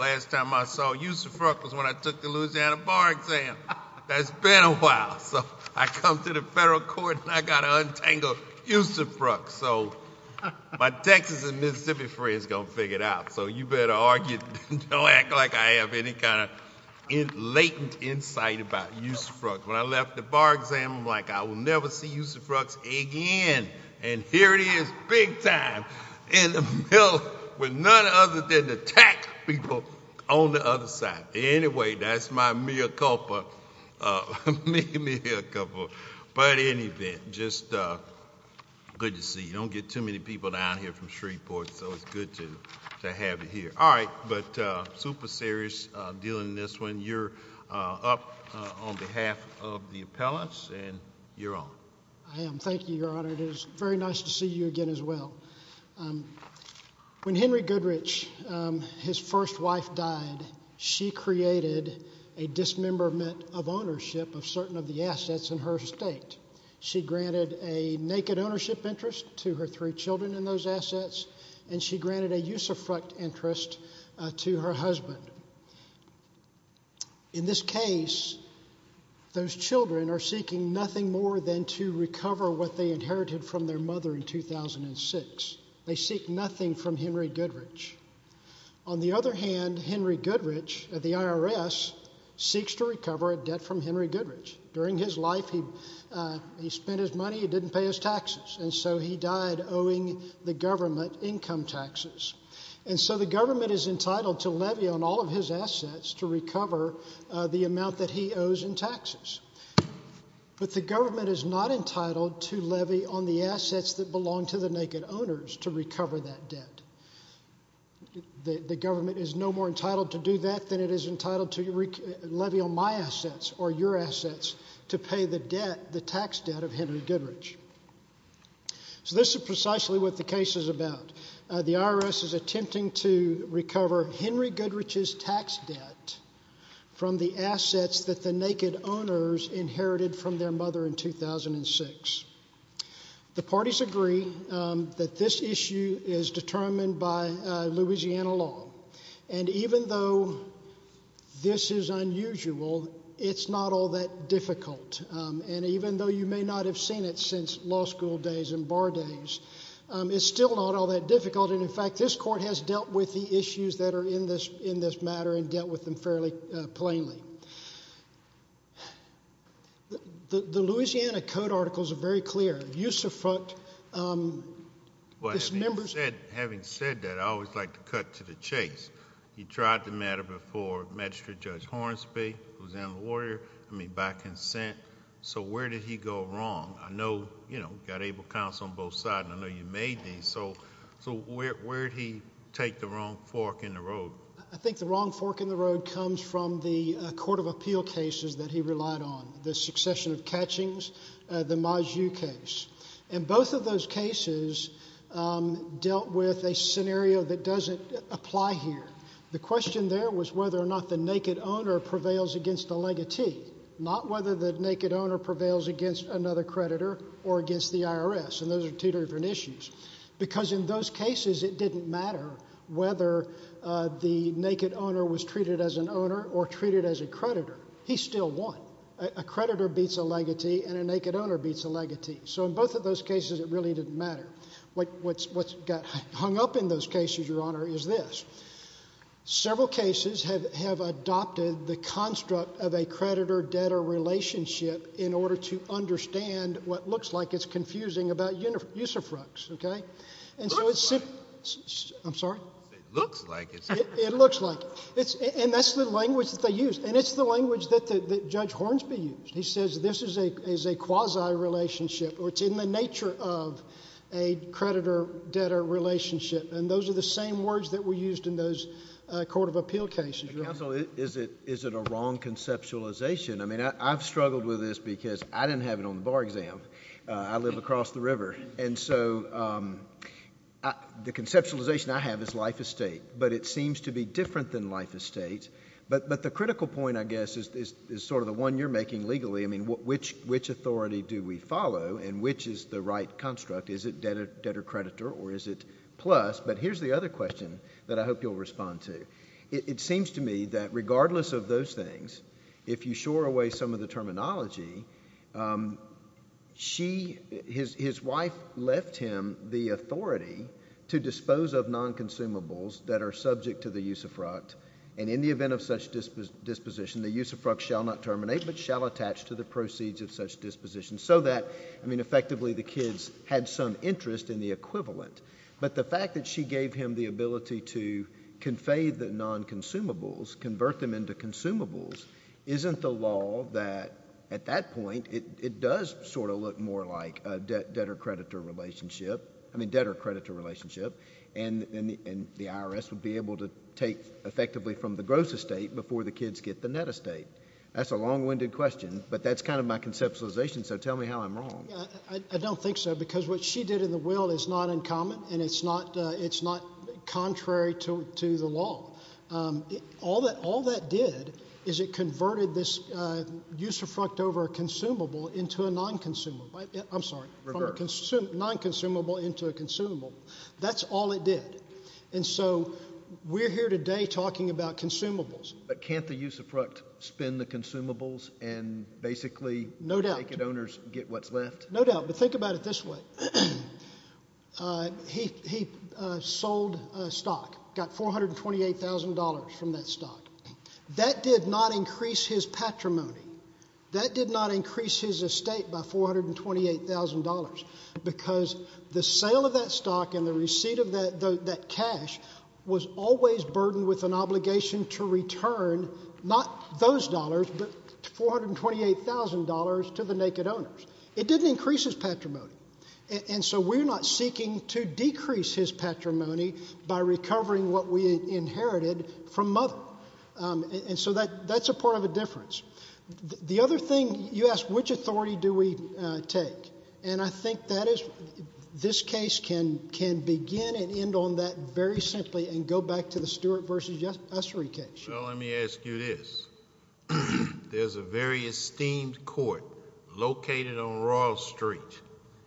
Last time I saw Youssef Rooks was when I took the Louisiana Bar Exam. That's been a while, so I come to the federal court and I got to untangle Youssef Rooks. So my Texas and Mississippi friends are going to figure it out. So you better argue, don't act like I have any kind of latent insight about Youssef Rooks. When I left the Bar Exam, I'm like, I will never see Youssef Rooks again. And here it is, big time, in the middle, with none other than the tax people on the other side. Anyway, that's my mea culpa, mea culpa. But anyway, just good to see you. Don't get too many people down here from Shreveport, so it's good to have you here. All right, but super serious dealing in this one. You're up on behalf of the appellants, and you're on. I am. Thank you, Your Honor. It is very nice to see you again as well. When Henry Goodrich, his first wife, died, she created a dismemberment of ownership of certain of the assets in her estate. She granted a naked ownership interest to her three children in those assets, and she granted a usufruct interest to her husband. In this case, those children are seeking nothing more than to recover what they inherited from their mother in 2006. They seek nothing from Henry Goodrich. On the other hand, Henry Goodrich, at the IRS, seeks to recover a debt from Henry Goodrich. During his life, he spent his money, he didn't pay his taxes, and so he died owing the government income taxes. The government is entitled to levy on all of his assets to recover the amount that he owes in taxes, but the government is not entitled to levy on the assets that belong to the naked owners to recover that debt. The government is no more entitled to do that than it is entitled to levy on my assets or your assets to pay the tax debt of Henry Goodrich. This is precisely what the case is about. The IRS is attempting to recover Henry Goodrich's tax debt from the assets that the naked owners inherited from their mother in 2006. The parties agree that this issue is determined by Louisiana law. And even though this is unusual, it's not all that difficult. And even though you may not have seen it since law school days and bar days, it's still not all that difficult. And in fact, this court has dealt with the issues that are in this matter and dealt with them fairly plainly. The Louisiana Code articles are very clear. You suffocate this member's... Having said that, I always like to cut to the chase. You tried the matter before, Magistrate Judge Hornsby, Louisiana lawyer, I mean, by consent. So where did he go wrong? I know, you know, you've got able counsel on both sides, and I know you made these. So where did he take the wrong fork in the road? I think the wrong fork in the road comes from the court of appeal cases that he relied on, the succession of catchings, the Maju case. And both of those cases dealt with a scenario that doesn't apply here. The question there was whether or not the naked owner prevails against the legatee, not whether the naked owner prevails against another creditor or against the IRS. And those are two different issues. Because in those cases, it didn't matter whether the naked owner was treated as an owner or treated as a creditor. He still won. A creditor beats a legatee, and a naked owner beats a legatee. So in both of those cases, it really didn't matter. What's got hung up in those cases, Your Honor, is this. Several cases have adopted the construct of a creditor-debtor relationship in order to use a fructus. Okay? And so it's... It looks like. I'm sorry? It looks like. It looks like. And that's the language that they use. And it's the language that Judge Hornsby used. He says this is a quasi-relationship, or it's in the nature of a creditor-debtor relationship. And those are the same words that were used in those court of appeal cases, Your Honor. Counsel, is it a wrong conceptualization? I mean, I've struggled with this because I didn't have it on the bar exam. I live across the river. And so the conceptualization I have is life estate. But it seems to be different than life estate. But the critical point, I guess, is sort of the one you're making legally. I mean, which authority do we follow, and which is the right construct? Is it debtor-creditor, or is it plus? But here's the other question that I hope you'll respond to. It seems to me that regardless of those things, if you shore away some of the terminology, his wife left him the authority to dispose of non-consumables that are subject to the use of fruct. And in the event of such disposition, the use of fruct shall not terminate, but shall attach to the proceeds of such disposition. So that, I mean, effectively, the kids had some interest in the equivalent. But the fact that she gave him the ability to convey the non-consumables, convert them into consumables, isn't the law that, at that point, it does sort of look more like a debtor-creditor relationship. I mean, debtor-creditor relationship, and the IRS would be able to take effectively from the gross estate before the kids get the net estate. That's a long-winded question, but that's kind of my conceptualization, so tell me how I'm wrong. I don't think so, because what she did in the will is not uncommon, and it's not contrary to the law. All that did is it converted this use of fruct over a consumable into a non-consumable. I'm sorry. Reverse. From a non-consumable into a consumable. That's all it did. And so, we're here today talking about consumables. But can't the use of fruct spin the consumables and basically naked owners get what's left? No doubt, but think about it this way. He sold a stock, got $428,000 from that stock. That did not increase his patrimony. That did not increase his estate by $428,000, because the sale of that stock and the receipt of that cash was always burdened with an obligation to return not those dollars, but $428,000 to the naked owners. It didn't increase his patrimony. And so, we're not seeking to decrease his patrimony by recovering what we inherited from mother. And so, that's a part of a difference. The other thing you asked, which authority do we take? And I think this case can begin and end on that very simply and go back to the Stewart v. Ussery case. Well, let me ask you this. There's a very esteemed court located on Royal Street.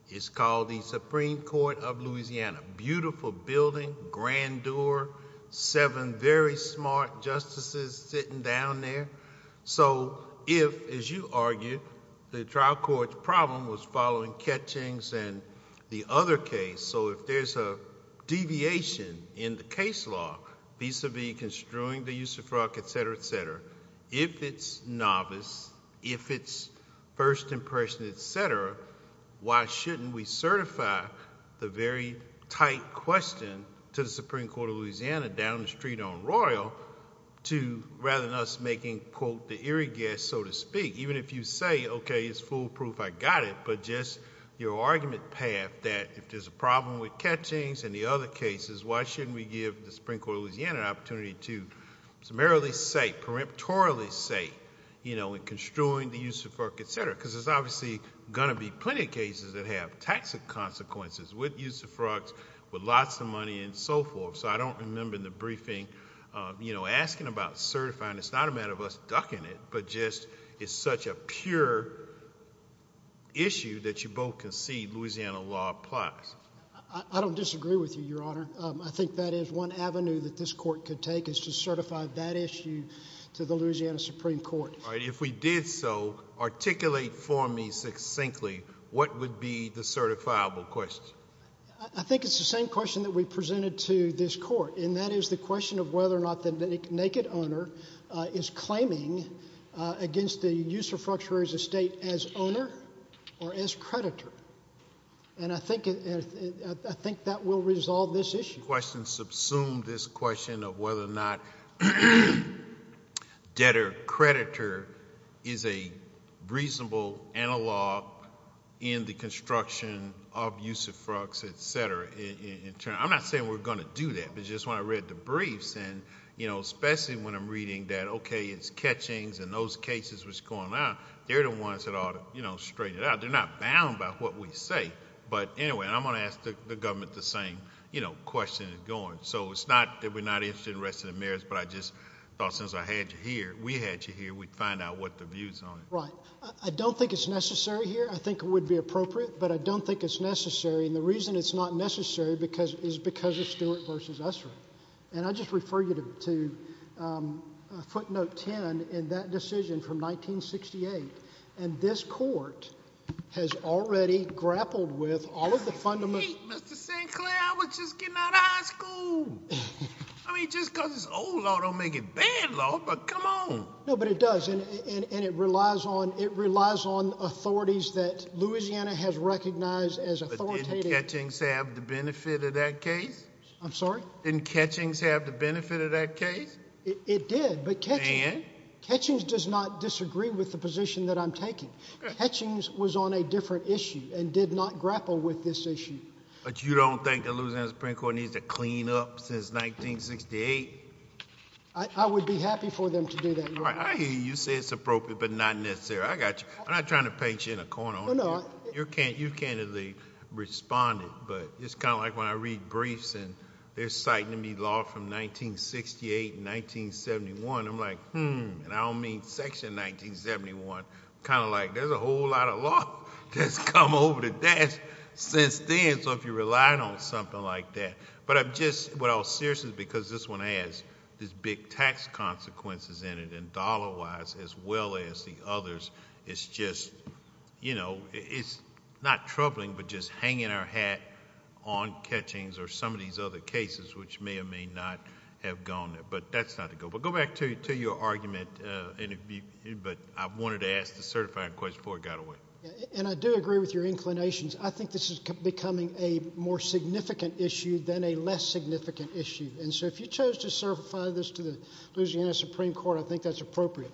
It's called the Supreme Court of Louisiana. Beautiful building, grandeur, seven very smart justices sitting down there. So if, as you argued, the trial court's problem was following catchings and the other case, so if there's a deviation in the case law, vis-a-vis construing the use of fraud, etc., etc., if it's novice, if it's first impression, etc., why shouldn't we certify the very tight question to the Supreme Court of Louisiana down the street on Royal to rather than us making, quote, the eerie guess, so to speak, even if you say, okay, it's foolproof, I got it, but just your argument path that if there's a problem with catchings and the other cases, why shouldn't we give the Supreme Court of Louisiana an opportunity to summarily say, preemptorily say, in construing the use of fraud, etc.? Because there's obviously going to be plenty of cases that have tax consequences with use of fraud, with lots of money and so forth. So I don't remember in the briefing asking about certifying. And it's not a matter of us ducking it, but just it's such a pure issue that you both concede Louisiana law applies. I don't disagree with you, Your Honor. I think that is one avenue that this court could take is to certify that issue to the Louisiana Supreme Court. All right. If we did so, articulate for me succinctly what would be the certifiable question. I think it's the same question that we presented to this court, and that is the question of whether or not the naked owner is claiming against the use of fructuary as a state as owner or as creditor. And I think that will resolve this issue. Questions subsume this question of whether or not debtor-creditor is a reasonable analog in the construction of use of fructs, etc., in turn. I'm not saying we're going to do that, but just when I read the briefs and, you know, especially when I'm reading that, okay, it's catchings and those cases that's going on, they're the ones that ought to, you know, straighten it out. They're not bound by what we say. But anyway, I'm going to ask the government the same, you know, question is going. So it's not that we're not interested in arresting the mayors, but I just thought since I had you here, we had you here, we'd find out what the views on it. Right. I don't think it's necessary here. I think it would be appropriate, but I don't think it's necessary. And the reason it's not necessary is because of Stewart v. Ussery. And I just refer you to footnote 10 in that decision from 1968. And this court has already grappled with all of the fundamental... Wait, Mr. St. Clair, I was just getting out of high school. I mean, just because it's old law don't make it bad law, but come on. No, but it does. And it relies on... it relies on authorities that Louisiana has recognized as authoritative... But didn't Ketchings have the benefit of that case? I'm sorry? Didn't Ketchings have the benefit of that case? It did, but Ketchings... And? Ketchings does not disagree with the position that I'm taking. Ketchings was on a different issue and did not grapple with this issue. But you don't think the Louisiana Supreme Court needs to clean up since 1968? I would be happy for them to do that, Your Honor. I hear you say it's appropriate, but not necessary. I got you. I'm not trying to paint you in a corner. You candidly responded, but it's kind of like when I read briefs and they're citing to me law from 1968 and 1971. I'm like, hmm, and I don't mean Section 1971. Kind of like, there's a whole lot of law that's come over the desk since then, so if you're relying on something like that... What I was serious is because this one has these big tax consequences in it, and dollar-wise, as well as the others, it's just... It's not troubling, but just hanging our hat on Ketchings or some of these other cases, which may or may not have gone there. But that's not the goal. But go back to your argument, but I wanted to ask the certifying question before it got away. And I do agree with your inclinations. I think this is becoming a more significant issue than a less significant issue. And so, if you chose to certify this to the Louisiana Supreme Court, I think that's appropriate.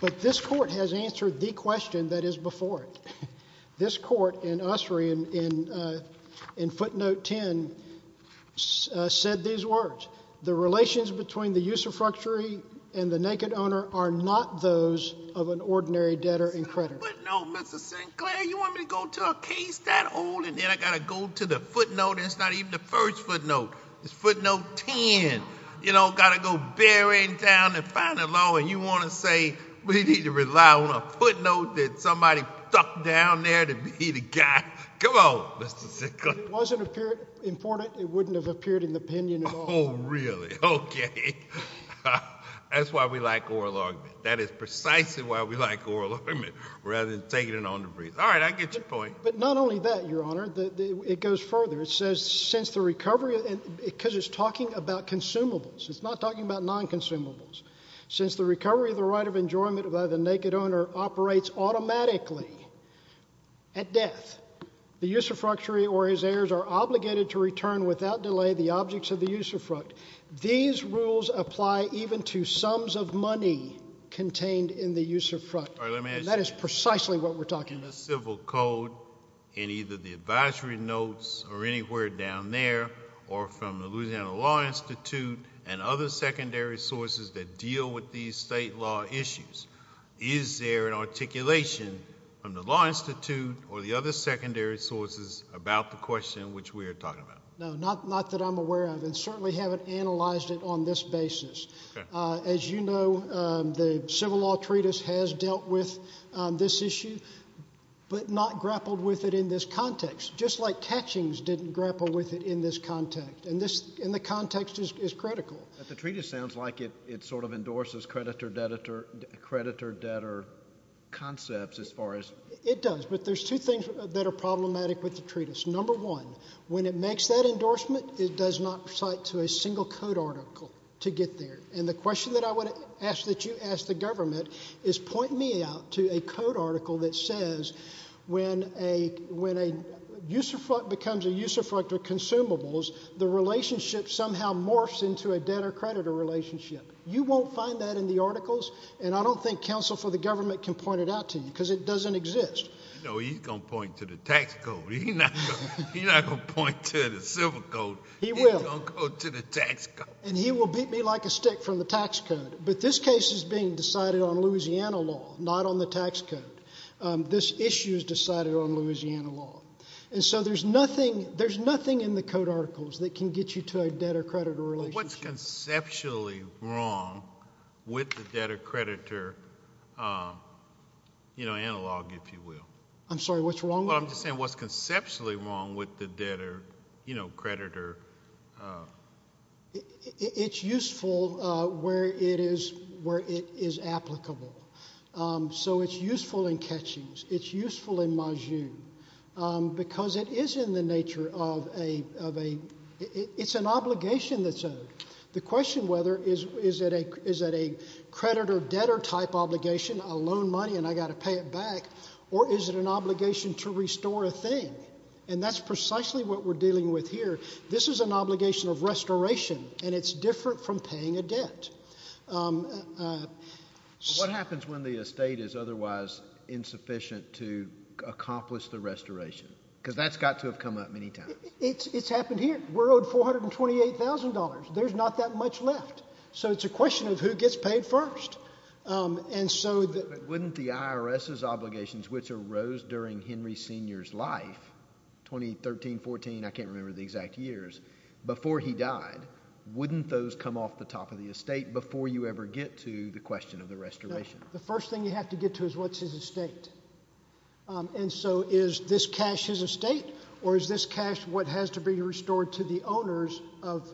But this court has answered the question that is before it. This court in Ussery, in footnote 10, said these words. The relations between the usurpatory and the naked owner are not those of an ordinary debtor and creditor. But, no, Mr. Sinclair, you want me to go to a case that old, and then I got to go to the footnote, and it's not even the first footnote. It's footnote 10. You know, got to go bearing down the final law, and you want to say we need to rely on a footnote that somebody stuck down there to be the guy? Come on, Mr. Sinclair. If it wasn't important, it wouldn't have appeared in the opinion at all. Oh, really? Okay. That's why we like oral argument. That is precisely why we like oral argument, rather than taking it on the breeze. All right, I get your point. But not only that, Your Honor. It goes further. It says, since the recovery, because it's talking about consumables. It's not talking about non-consumables. Since the recovery of the right of enjoyment by the naked owner operates automatically at death, the usurpatory or his heirs are obligated to return without delay the objects of the usurpatory. These rules apply even to sums of money contained in the usurp front. And that is precisely what we're talking about. In the civil code, in either the advisory notes or anywhere down there, or from the Louisiana Law Institute and other secondary sources that deal with these state law issues, is there an articulation from the law institute or the other secondary sources about the question which we are talking about? No, not that I'm aware of. And certainly haven't analyzed it on this basis. Okay. As you know, the civil law treatise has dealt with this issue, but not grappled with it in this context, just like catchings didn't grapple with it in this context. And the context is critical. But the treatise sounds like it sort of endorses creditor-debtor concepts as far as— It does. But there's two things that are problematic with the treatise. Number one, when it makes that endorsement, it does not cite to a single code article to get there. And the question that I would ask that you ask the government is point me out to a code article that says when a usurp front becomes a usurp front to consumables, the relationship somehow morphs into a debtor-creditor relationship. You won't find that in the articles, and I don't think counsel for the government can point it out to you because it doesn't exist. No, he's going to point to the tax code. He's not going to point to the civil code. He will. He's going to go to the tax code. And he will beat me like a stick from the tax code. But this case is being decided on Louisiana law, not on the tax code. This issue is decided on Louisiana law. And so there's nothing in the code articles that can get you to a debtor-creditor relationship. What's conceptually wrong with the debtor-creditor analog, if you will? I'm sorry. What's wrong? I'm just saying what's conceptually wrong with the debtor-creditor? It's useful where it is applicable. So it's useful in catchings. It's useful in majus. Because it is in the nature of a ‑‑ it's an obligation that's owed. The question whether is it a creditor-debtor type obligation, a loan money, and I've got to pay it back, or is it an obligation to restore a thing? And that's precisely what we're dealing with here. This is an obligation of restoration, and it's different from paying a debt. What happens when the estate is otherwise insufficient to accomplish the restoration? Because that's got to have come up many times. It's happened here. We're owed $428,000. There's not that much left. So it's a question of who gets paid first. But wouldn't the IRS's obligations, which arose during Henry Sr.'s life, 2013, 14, I can't remember the exact years, before he died, wouldn't those come off the top of the estate before you ever get to the question of the restoration? The first thing you have to get to is what's his estate. And so is this cash his estate, or is this cash what has to be restored to the owners of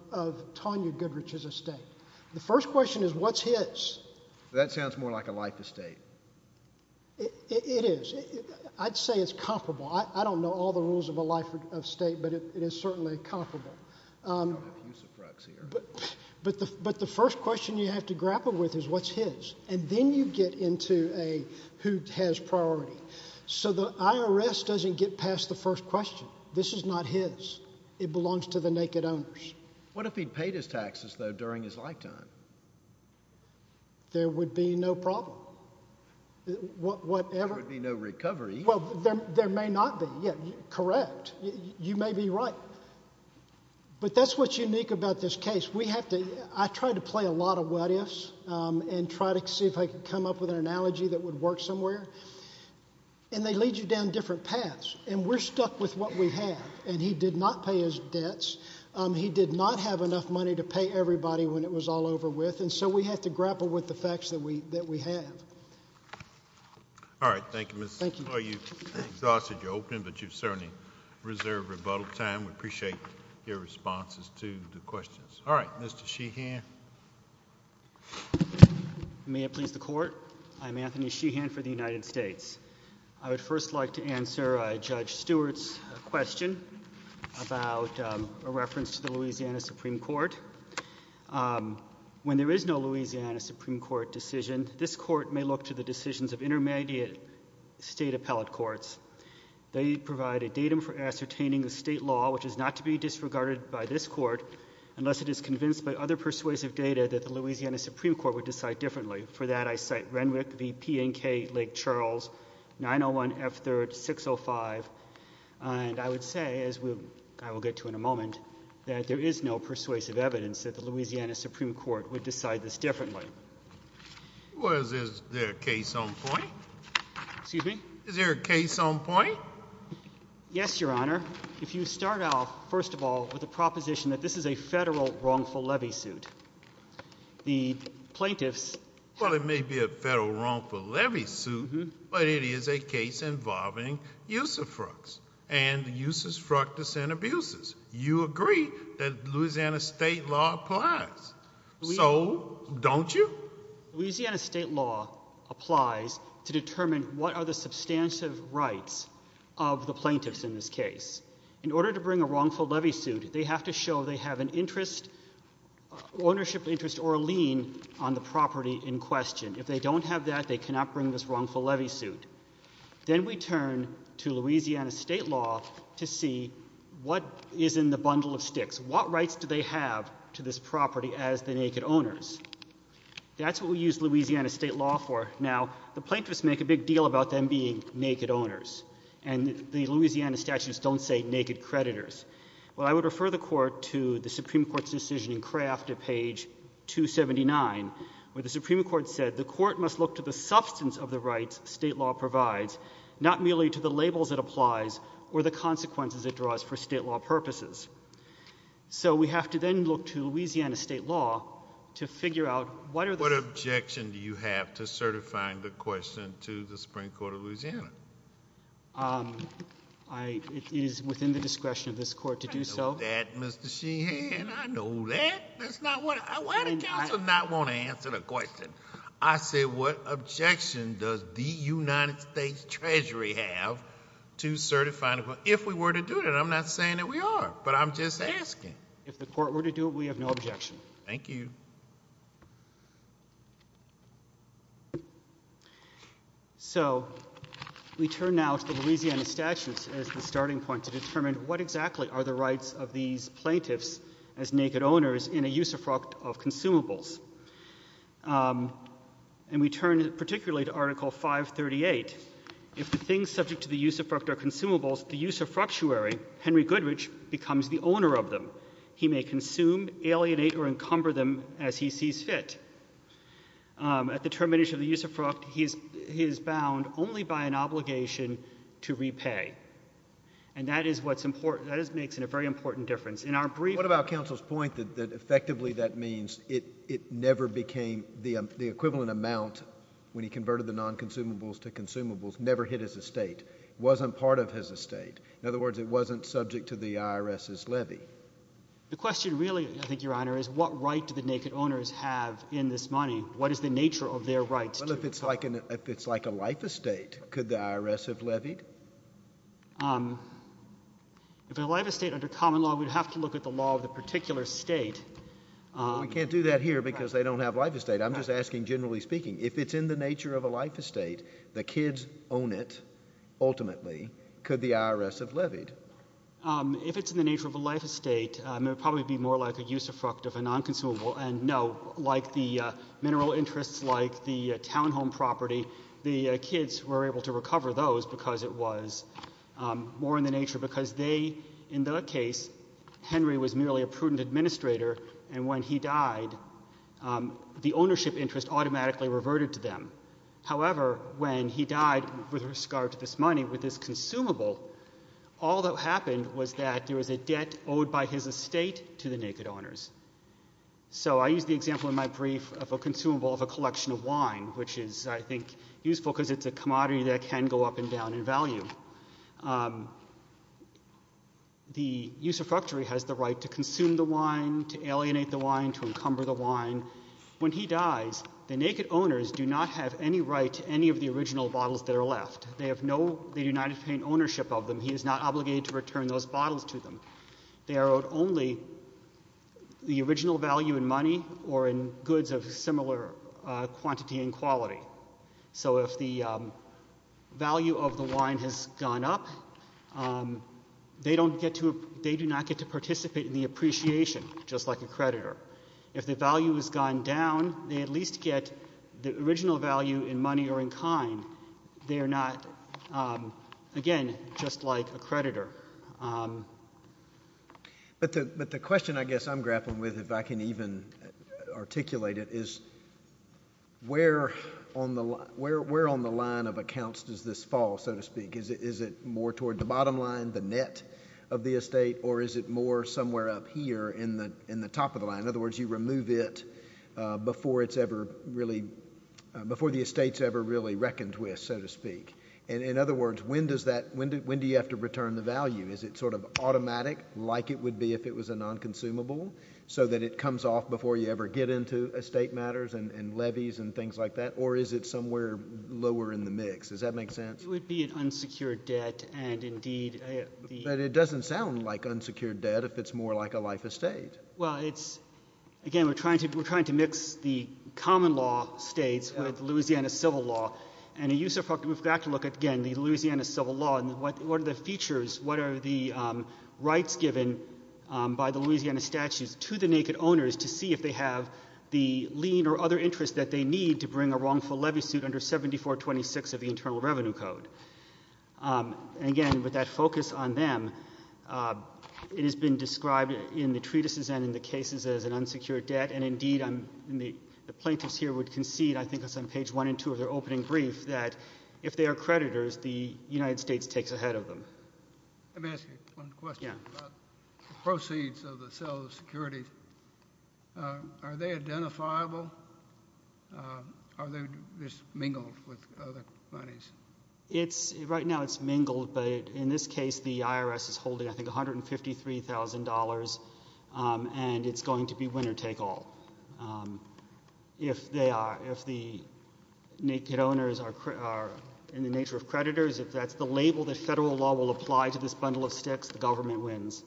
Tonya Goodrich's estate? The first question is what's his? That sounds more like a life estate. It is. I'd say it's comparable. I don't know all the rules of a life estate, but it is certainly comparable. But the first question you have to grapple with is what's his? And then you get into a who has priority. So the IRS doesn't get past the first question. This is not his. It belongs to the naked owners. What if he paid his taxes, though, during his lifetime? There would be no problem. There would be no recovery. Well, there may not be. Correct. You may be right. But that's what's unique about this case. I try to play a lot of what ifs and try to see if I can come up with an analogy that would work somewhere. And they lead you down different paths. And we're stuck with what we have. And he did not pay his debts. He did not have enough money to pay everybody when it was all over with. And so we have to grapple with the facts that we have. All right. Thank you, Mr. Small. Thank you. I'm exhausted. You're open, but you've certainly reserved rebuttal time. We appreciate your responses to the questions. All right. Mr. Sheehan. May it please the Court? I'm Anthony Sheehan for the United States. I would first like to answer Judge Stewart's question about a reference to the Louisiana Supreme Court. When there is no Louisiana Supreme Court decision, this court may look to the decisions of intermediate state appellate courts. They provide a datum for ascertaining the state law, which is not to be disregarded by this court, unless it is convinced by other persuasive data that the Louisiana Supreme Court would decide differently. For that, I cite Renwick v. P&K, Lake Charles, 901 F. 3rd, 605. And I would say, as I will get to in a moment, that there is no persuasive evidence that the Louisiana Supreme Court would decide this differently. Well, is there a case on point? Excuse me? Is there a case on point? Yes, Your Honor. If you start off, first of all, with the proposition that this is a federal wrongful levy suit, the plaintiffs— Well, it may be a federal wrongful levy suit, but it is a case involving use of fructs and the use of fructus and abuses. You agree that Louisiana state law applies. So don't you? Louisiana state law applies to determine what are the substantive rights of the plaintiffs in this case. In order to bring a wrongful levy suit, they have to show they have an ownership interest or a lien on the property in question. If they don't have that, they cannot bring this wrongful levy suit. Then we turn to Louisiana state law to see what is in the bundle of sticks. What rights do they have to this property as the naked owners? That's what we use Louisiana state law for. Now, the plaintiffs make a big deal about them being naked owners. And the Louisiana statutes don't say naked creditors. Well, I would refer the court to the Supreme Court's decision in Kraft at page 279, where the Supreme Court said the court must look to the substance of the rights state law provides, not merely to the labels it applies or the consequences it draws for state law purposes. So we have to then look to Louisiana state law to figure out what are the— It is within the discretion of this court to do so. I know that, Mr. Sheehan. I know that. That's not what—why does counsel not want to answer the question? I said what objection does the United States Treasury have to certify—if we were to do that? I'm not saying that we are, but I'm just asking. If the court were to do it, we have no objection. Thank you. So we turn now to the Louisiana statutes as the starting point to determine what exactly are the rights of these plaintiffs as naked owners in a usufruct of consumables. And we turn particularly to Article 538. If the things subject to the usufruct are consumables, the usufructuary, Henry Goodrich, becomes the owner of them. He may consume, alienate, or encumber them as he sees fit. At the termination of the usufruct, he is bound only by an obligation to repay. And that is what makes it a very important difference. What about counsel's point that effectively that means it never became— the equivalent amount when he converted the non-consumables to consumables never hit his estate, wasn't part of his estate. In other words, it wasn't subject to the IRS's levy. The question really, I think, Your Honor, is what right do the naked owners have in this money? What is the nature of their rights? Well, if it's like a life estate, could the IRS have levied? If it's a life estate under common law, we'd have to look at the law of the particular state. We can't do that here because they don't have life estate. I'm just asking generally speaking. If it's in the nature of a life estate, the kids own it ultimately. Could the IRS have levied? If it's in the nature of a life estate, it would probably be more like a usufruct of a non-consumable. And no, like the mineral interests, like the townhome property, the kids were able to recover those because it was more in the nature because they, in their case, Henry was merely a prudent administrator. And when he died, the ownership interest automatically reverted to them. However, when he died with regard to this money, with this consumable, all that happened was that there was a debt owed by his estate to the naked owners. So I used the example in my brief of a consumable of a collection of wine, which is, I think, useful because it's a commodity that can go up and down in value. The usufructory has the right to consume the wine, to alienate the wine, to encumber the wine. When he dies, the naked owners do not have any right to any of the original bottles that are left. They have no, they do not obtain ownership of them. He is not obligated to return those bottles to them. They are owed only the original value in money or in goods of similar quantity and quality. So if the value of the wine has gone up, they do not get to participate in the appreciation, just like a creditor. If the value has gone down, they at least get the original value in money or in kind. They are not, again, just like a creditor. But the question I guess I'm grappling with, if I can even articulate it, is where on the line of accounts does this fall, so to speak? Is it more toward the bottom line, the net of the estate, or is it more somewhere up here in the top of the line? In other words, you remove it before it's ever really, before the estate's ever really reckoned with, so to speak. And in other words, when does that, when do you have to return the value? Is it sort of automatic, like it would be if it was a non-consumable, so that it comes off before you ever get into estate matters and levies and things like that? Or is it somewhere lower in the mix? Does that make sense? It would be an unsecured debt, and indeed— But it doesn't sound like unsecured debt if it's more like a life estate. Well, it's, again, we're trying to mix the common law states with Louisiana civil law. And we've got to look at, again, the Louisiana civil law and what are the features, what are the rights given by the Louisiana statutes to the naked owners to see if they have the lien or other interest that they need to bring a wrongful levy suit under 7426 of the Internal Revenue Code. Again, with that focus on them, it has been described in the treatises and in the cases as an unsecured debt. And indeed, the plaintiffs here would concede, I think it's on page one and two of their opening brief, that if they are creditors, the United States takes ahead of them. Let me ask you one question about the proceeds of the cell of security. Are they identifiable? Are they just mingled with other monies? Right now, it's mingled. But in this case, the IRS is holding, I think, $153,000. And it's going to be winner take all. If the naked owners are in the nature of creditors, if that's the label that federal law will apply to this bundle of sticks, the government wins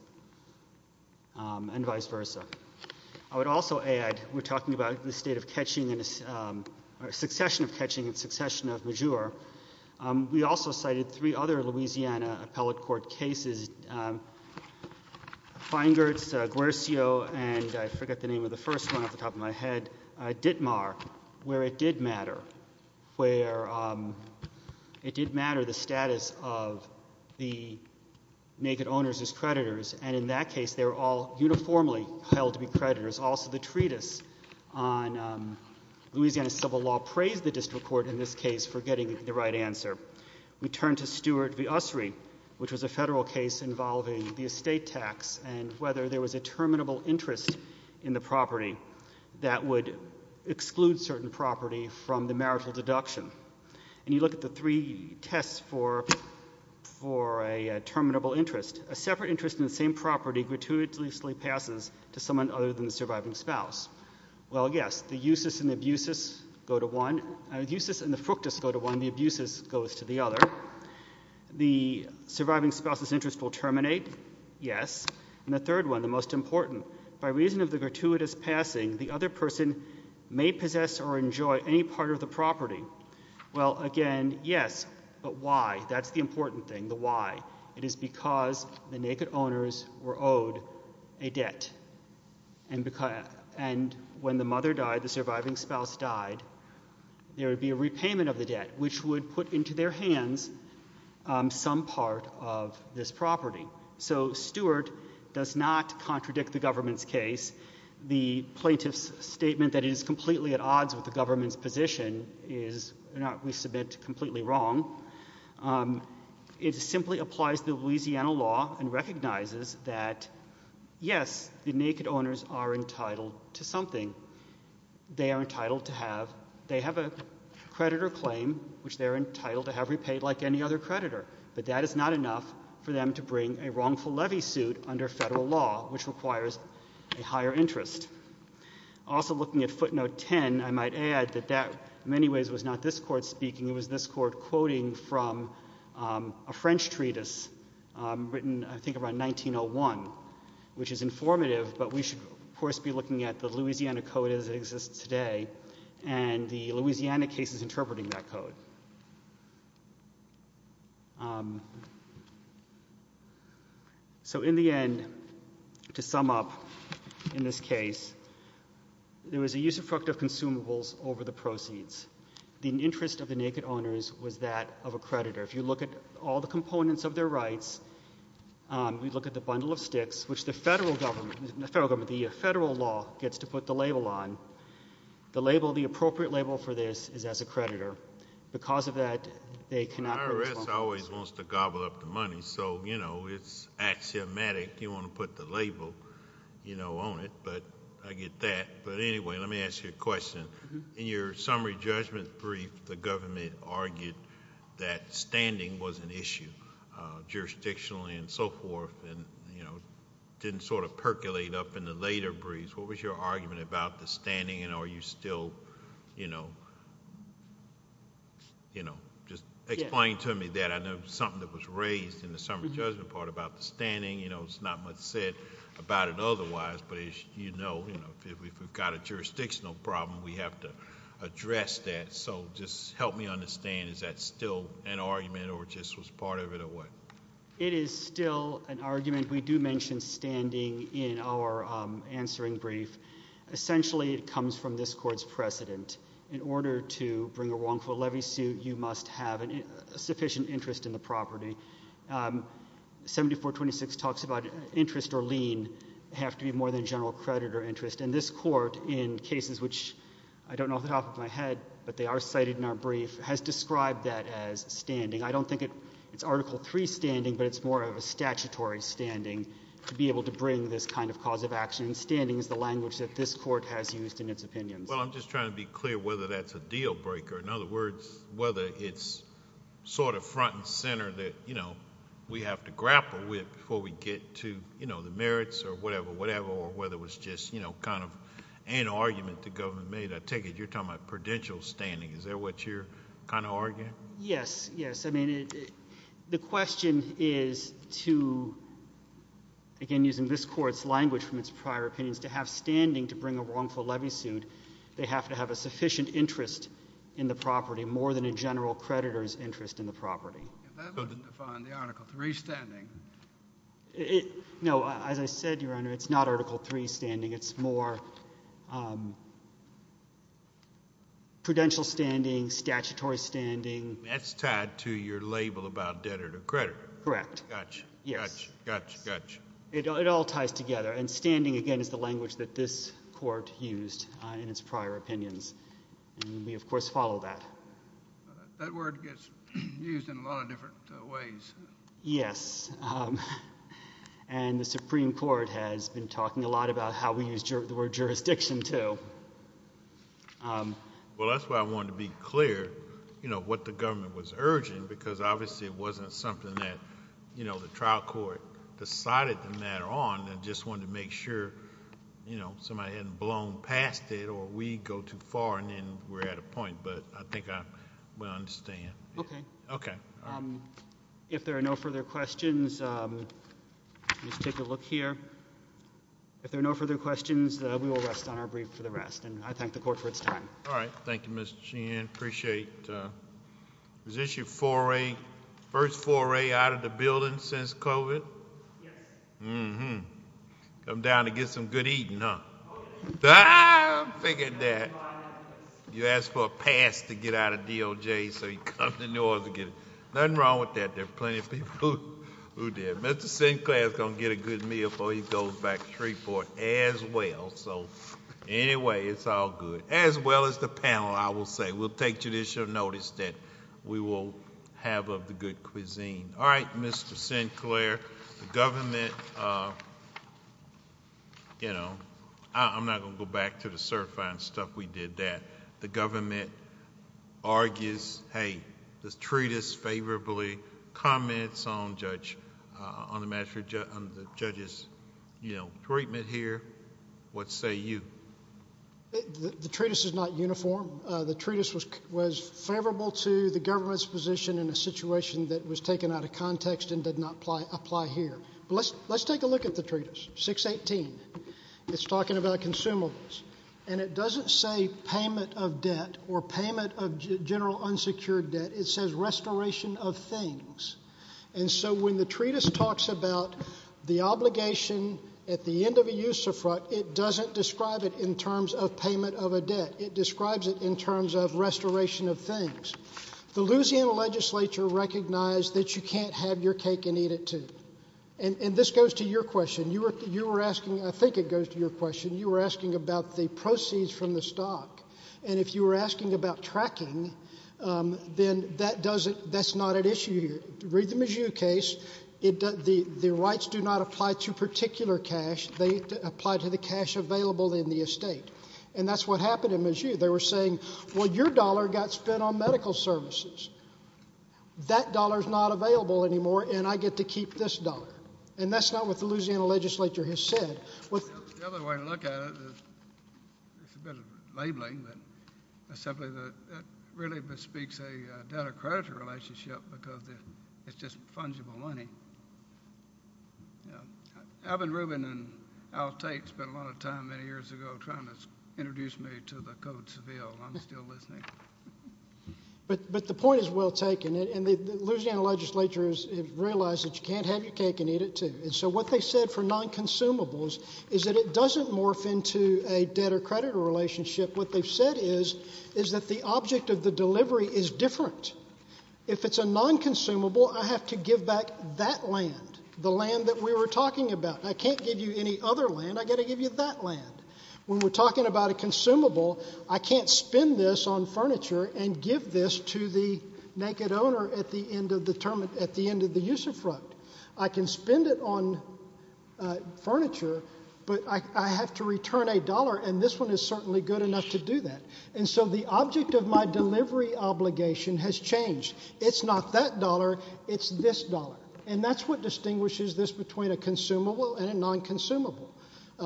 and vice versa. I would also add, we're talking about the state of catching and succession of catching and succession of majeure. We also cited three other Louisiana appellate court cases, Feingertz, Guercio, and I forget the name of the first one off the top of my head, Ditmar, where it did matter. Where it did matter the status of the naked owners as creditors. And in that case, they were all uniformly held to be creditors. Also, the treatise on Louisiana civil law praised the district court in this case for getting the right answer. We turn to Stewart v. Ussery, which was a federal case involving the estate tax and whether there was a terminable interest in the property that would exclude certain property from the marital deduction. And you look at the three tests for a terminable interest. A separate interest in the same property gratuitously passes to someone other than the surviving spouse. Well, yes. The usus and the fructus go to one. The abusus goes to the other. The surviving spouse's interest will terminate. Yes. And the third one, the most important. By reason of the gratuitous passing, the other person may possess or enjoy any part of the property. Well, again, yes. But why? That's the important thing. The why. It is because the naked owners were owed a debt. And when the mother died, the surviving spouse died, there would be a repayment of the debt, which would put into their hands some part of this property. So Stewart does not contradict the government's case. The plaintiff's statement that it is completely at odds with the government's position is, we submit, completely wrong. It simply applies to Louisiana law and recognizes that, yes, the naked owners are entitled to something. They are entitled to have, they have a creditor claim, which they are entitled to have repaid like any other creditor. But that is not enough for them to bring a wrongful levy suit under federal law, which requires a higher interest. Also, looking at footnote 10, I might add that that, in many ways, was not this court speaking. It was this court quoting from a French treatise written, I think, around 1901, which is informative. But we should, of course, be looking at the Louisiana code as it exists today and the Louisiana cases interpreting that code. So in the end, to sum up in this case, there was a use of fructive consumables over the proceeds. The interest of the naked owners was that of a creditor. If you look at all the components of their rights, we look at the bundle of sticks, which the federal government, the federal law gets to put the label on. The label, the appropriate label for this is as a creditor. Because of that, they cannot bring a wrongful levy suit. IRS always wants to gobble up the money. So, you know, it's axiomatic. You want to put the label, you know, on it. But I get that. But anyway, let me ask you a question. In your summary judgment brief, the government argued that standing was an issue, jurisdictionally and so forth, and, you know, didn't sort of percolate up in the later briefs. What was your argument about the standing and are you still, you know, just explain to me that. I know something that was raised in the summary judgment part about the standing. You know, it's not much said about it otherwise. But as you know, if we've got a jurisdictional problem, we have to address that. So just help me understand. Is that still an argument or just was part of it or what? It is still an argument. We do mention standing in our answering brief. Essentially, it comes from this court's precedent. In order to bring a wrongful levy suit, you must have a sufficient interest in the property. 7426 talks about interest or lien have to be more than general credit or interest. And this court, in cases which I don't know off the top of my head, but they are cited in our brief, has described that as standing. I don't think it's Article III standing, but it's more of a statutory standing to be able to bring this kind of cause of action. And standing is the language that this court has used in its opinions. Well, I'm just trying to be clear whether that's a deal breaker. In other words, whether it's sort of front and center that, you know, we have to grapple with before we get to, you know, the merits or whatever, whatever, or whether it was just, you know, kind of an argument the government made. I take it you're talking about prudential standing. Is that what you're kind of arguing? Yes, yes. I mean, the question is to, again, using this court's language from its prior opinions, to have standing to bring a wrongful levy suit, they have to have a sufficient interest in the property, more than a general creditor's interest in the property. That doesn't define the Article III standing. No. As I said, Your Honor, it's not Article III standing. It's more prudential standing, statutory standing. That's tied to your label about debtor to creditor. Correct. Gotcha. Yes. Gotcha, gotcha, gotcha. It all ties together. And standing, again, is the language that this court used in its prior opinions. And we, of course, follow that. That word gets used in a lot of different ways. Yes. And the Supreme Court has been talking a lot about how we use the word jurisdiction, too. Well, that's why I wanted to be clear, you know, what the government was urging, because obviously it wasn't something that, you know, the trial court decided the matter on and just wanted to make sure, you know, somebody hadn't blown past it or we'd go too far and then we're at a point. But I think I understand. Okay. Okay. If there are no further questions, just take a look here. If there are no further questions, we will rest on our brief for the rest. And I thank the court for its time. All right. Thank you, Mr. Sheehan. Appreciate it. Is this your first foray out of the building since COVID? Yes. Mm-hmm. Come down to get some good eating, huh? I figured that. You asked for a pass to get out of DOJ, so you come to New Orleans to get it. Nothing wrong with that. There are plenty of people who did. Mr. Sinclair is going to get a good meal before he goes back to Shreveport as well. So, anyway, it's all good, as well as the panel, I will say. We'll take judicial notice that we will have of the good cuisine. All right, Mr. Sinclair. Mr. Sinclair, the government, you know, I'm not going to go back to the certifying stuff we did that. The government argues, hey, this treatise favorably comments on the judge's treatment here. What say you? The treatise is not uniform. The treatise was favorable to the government's position in a situation that was taken out of context and did not apply here. Let's take a look at the treatise, 618. It's talking about consumables. And it doesn't say payment of debt or payment of general unsecured debt. It says restoration of things. And so when the treatise talks about the obligation at the end of a use of fraud, it doesn't describe it in terms of payment of a debt. It describes it in terms of restoration of things. The Louisiana legislature recognized that you can't have your cake and eat it, too. And this goes to your question. You were asking, I think it goes to your question, you were asking about the proceeds from the stock. And if you were asking about tracking, then that's not at issue here. Read the Mizzou case. The rights do not apply to particular cash. They apply to the cash available in the estate. And that's what happened in Mizzou. They were saying, well, your dollar got spent on medical services. That dollar is not available anymore, and I get to keep this dollar. And that's not what the Louisiana legislature has said. The other way to look at it, it's a bit of labeling, but it's something that really bespeaks a debtor-creditor relationship because it's just fungible money. Yeah. Alvin Rubin and Al Tate spent a lot of time many years ago trying to introduce me to the Code Seville. I'm still listening. But the point is well taken. And the Louisiana legislature has realized that you can't have your cake and eat it, too. And so what they said for non-consumables is that it doesn't morph into a debtor-creditor relationship. What they've said is that the object of the delivery is different. If it's a non-consumable, I have to give back that land, the land that we were talking about. I can't give you any other land. I've got to give you that land. When we're talking about a consumable, I can't spend this on furniture and give this to the naked owner at the end of the use of fraud. I can spend it on furniture, but I have to return a dollar, and this one is certainly good enough to do that. And so the object of my delivery obligation has changed. It's not that dollar. It's this dollar, and that's what distinguishes this between a consumable and a non-consumable.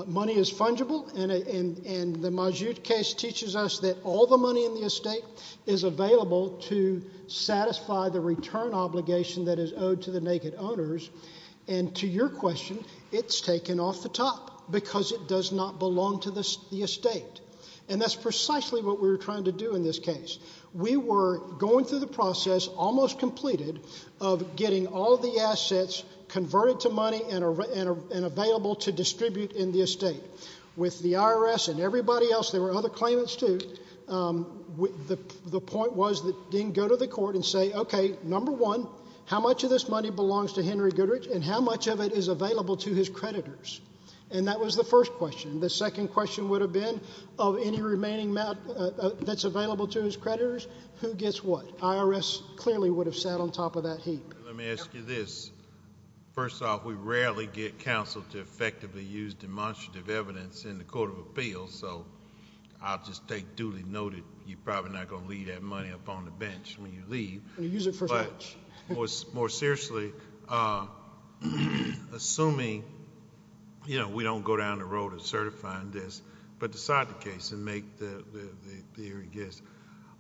Money is fungible, and the Majude case teaches us that all the money in the estate is available to satisfy the return obligation that is owed to the naked owners. And to your question, it's taken off the top because it does not belong to the estate. And that's precisely what we were trying to do in this case. We were going through the process, almost completed, of getting all the assets converted to money and available to distribute in the estate. With the IRS and everybody else, there were other claimants too, the point was that they didn't go to the court and say, okay, number one, how much of this money belongs to Henry Goodrich, and how much of it is available to his creditors? And that was the first question. The second question would have been, of any remaining amount that's available to his creditors, who gets what? IRS clearly would have sat on top of that heap. Let me ask you this. First off, we rarely get counsel to effectively use demonstrative evidence in the court of appeals, so I'll just take duly noted you're probably not going to leave that money up on the bench when you leave. When you use it for so much. More seriously, assuming we don't go down the road of certifying this, but decide the case and make the hearing,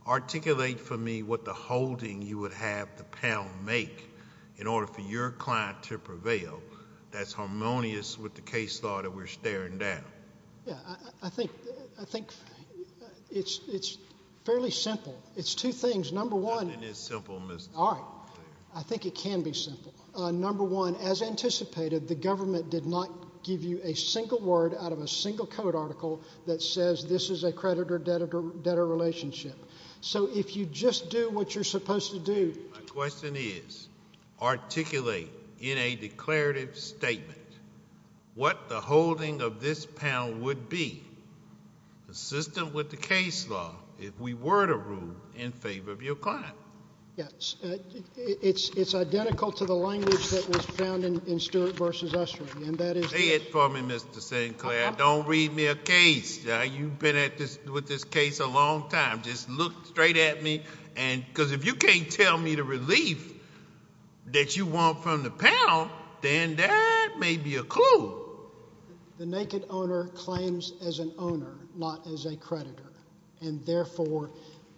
articulate for me what the holding you would have the panel make in order for your client to prevail that's harmonious with the case law that we're staring down. I think it's fairly simple. It's two things. Number one. Nothing is simple, Mr. Chairman. All right. I think it can be simple. Number one, as anticipated, the government did not give you a single word out of a single code article that says this is a creditor-debtor relationship. So if you just do what you're supposed to do. My question is, articulate in a declarative statement what the holding of this pound would be, consistent with the case law, if we were to rule in favor of your client. Yes. It's identical to the language that was found in Stewart v. Estrey, and that is this. Say it for me, Mr. St. Clair. Don't read me a case. You've been with this case a long time. Just look straight at me, because if you can't tell me the relief that you want from the pound, then that may be a clue. The naked owner claims as an owner, not as a creditor, and therefore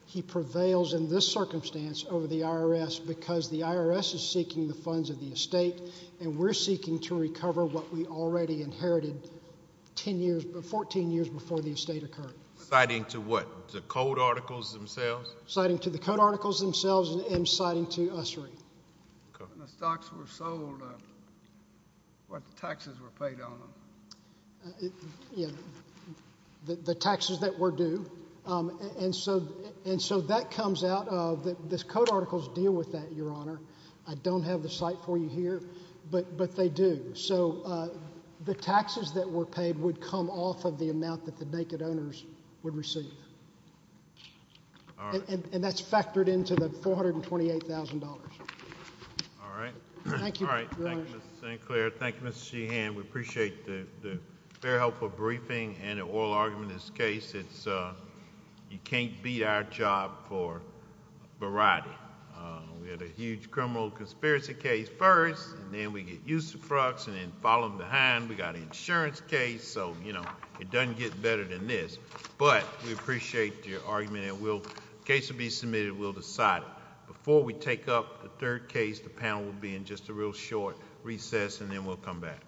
he prevails in this circumstance over the IRS because the IRS is seeking the funds of the estate, and we're seeking to recover what we already inherited 14 years before the estate occurred. Citing to what? The code articles themselves? When the stocks were sold, what taxes were paid on them? The taxes that were due, and so that comes out of this. Code articles deal with that, Your Honor. I don't have the site for you here, but they do. So the taxes that were paid would come off of the amount that the naked owners would receive, and that's factored into the $428,000. All right. Thank you, Your Honor. All right. Thank you, Mr. St. Clair. Thank you, Mr. Sheehan. We appreciate the very helpful briefing and the oral argument in this case. You can't beat our job for variety. We had a huge criminal conspiracy case first, and then we get used to Frux, and then follow them behind. We got an insurance case, so it doesn't get better than this. But we appreciate your argument, and the case will be submitted, and we'll decide it. Before we take up the third case, the panel will be in just a real short recess, and then we'll come back.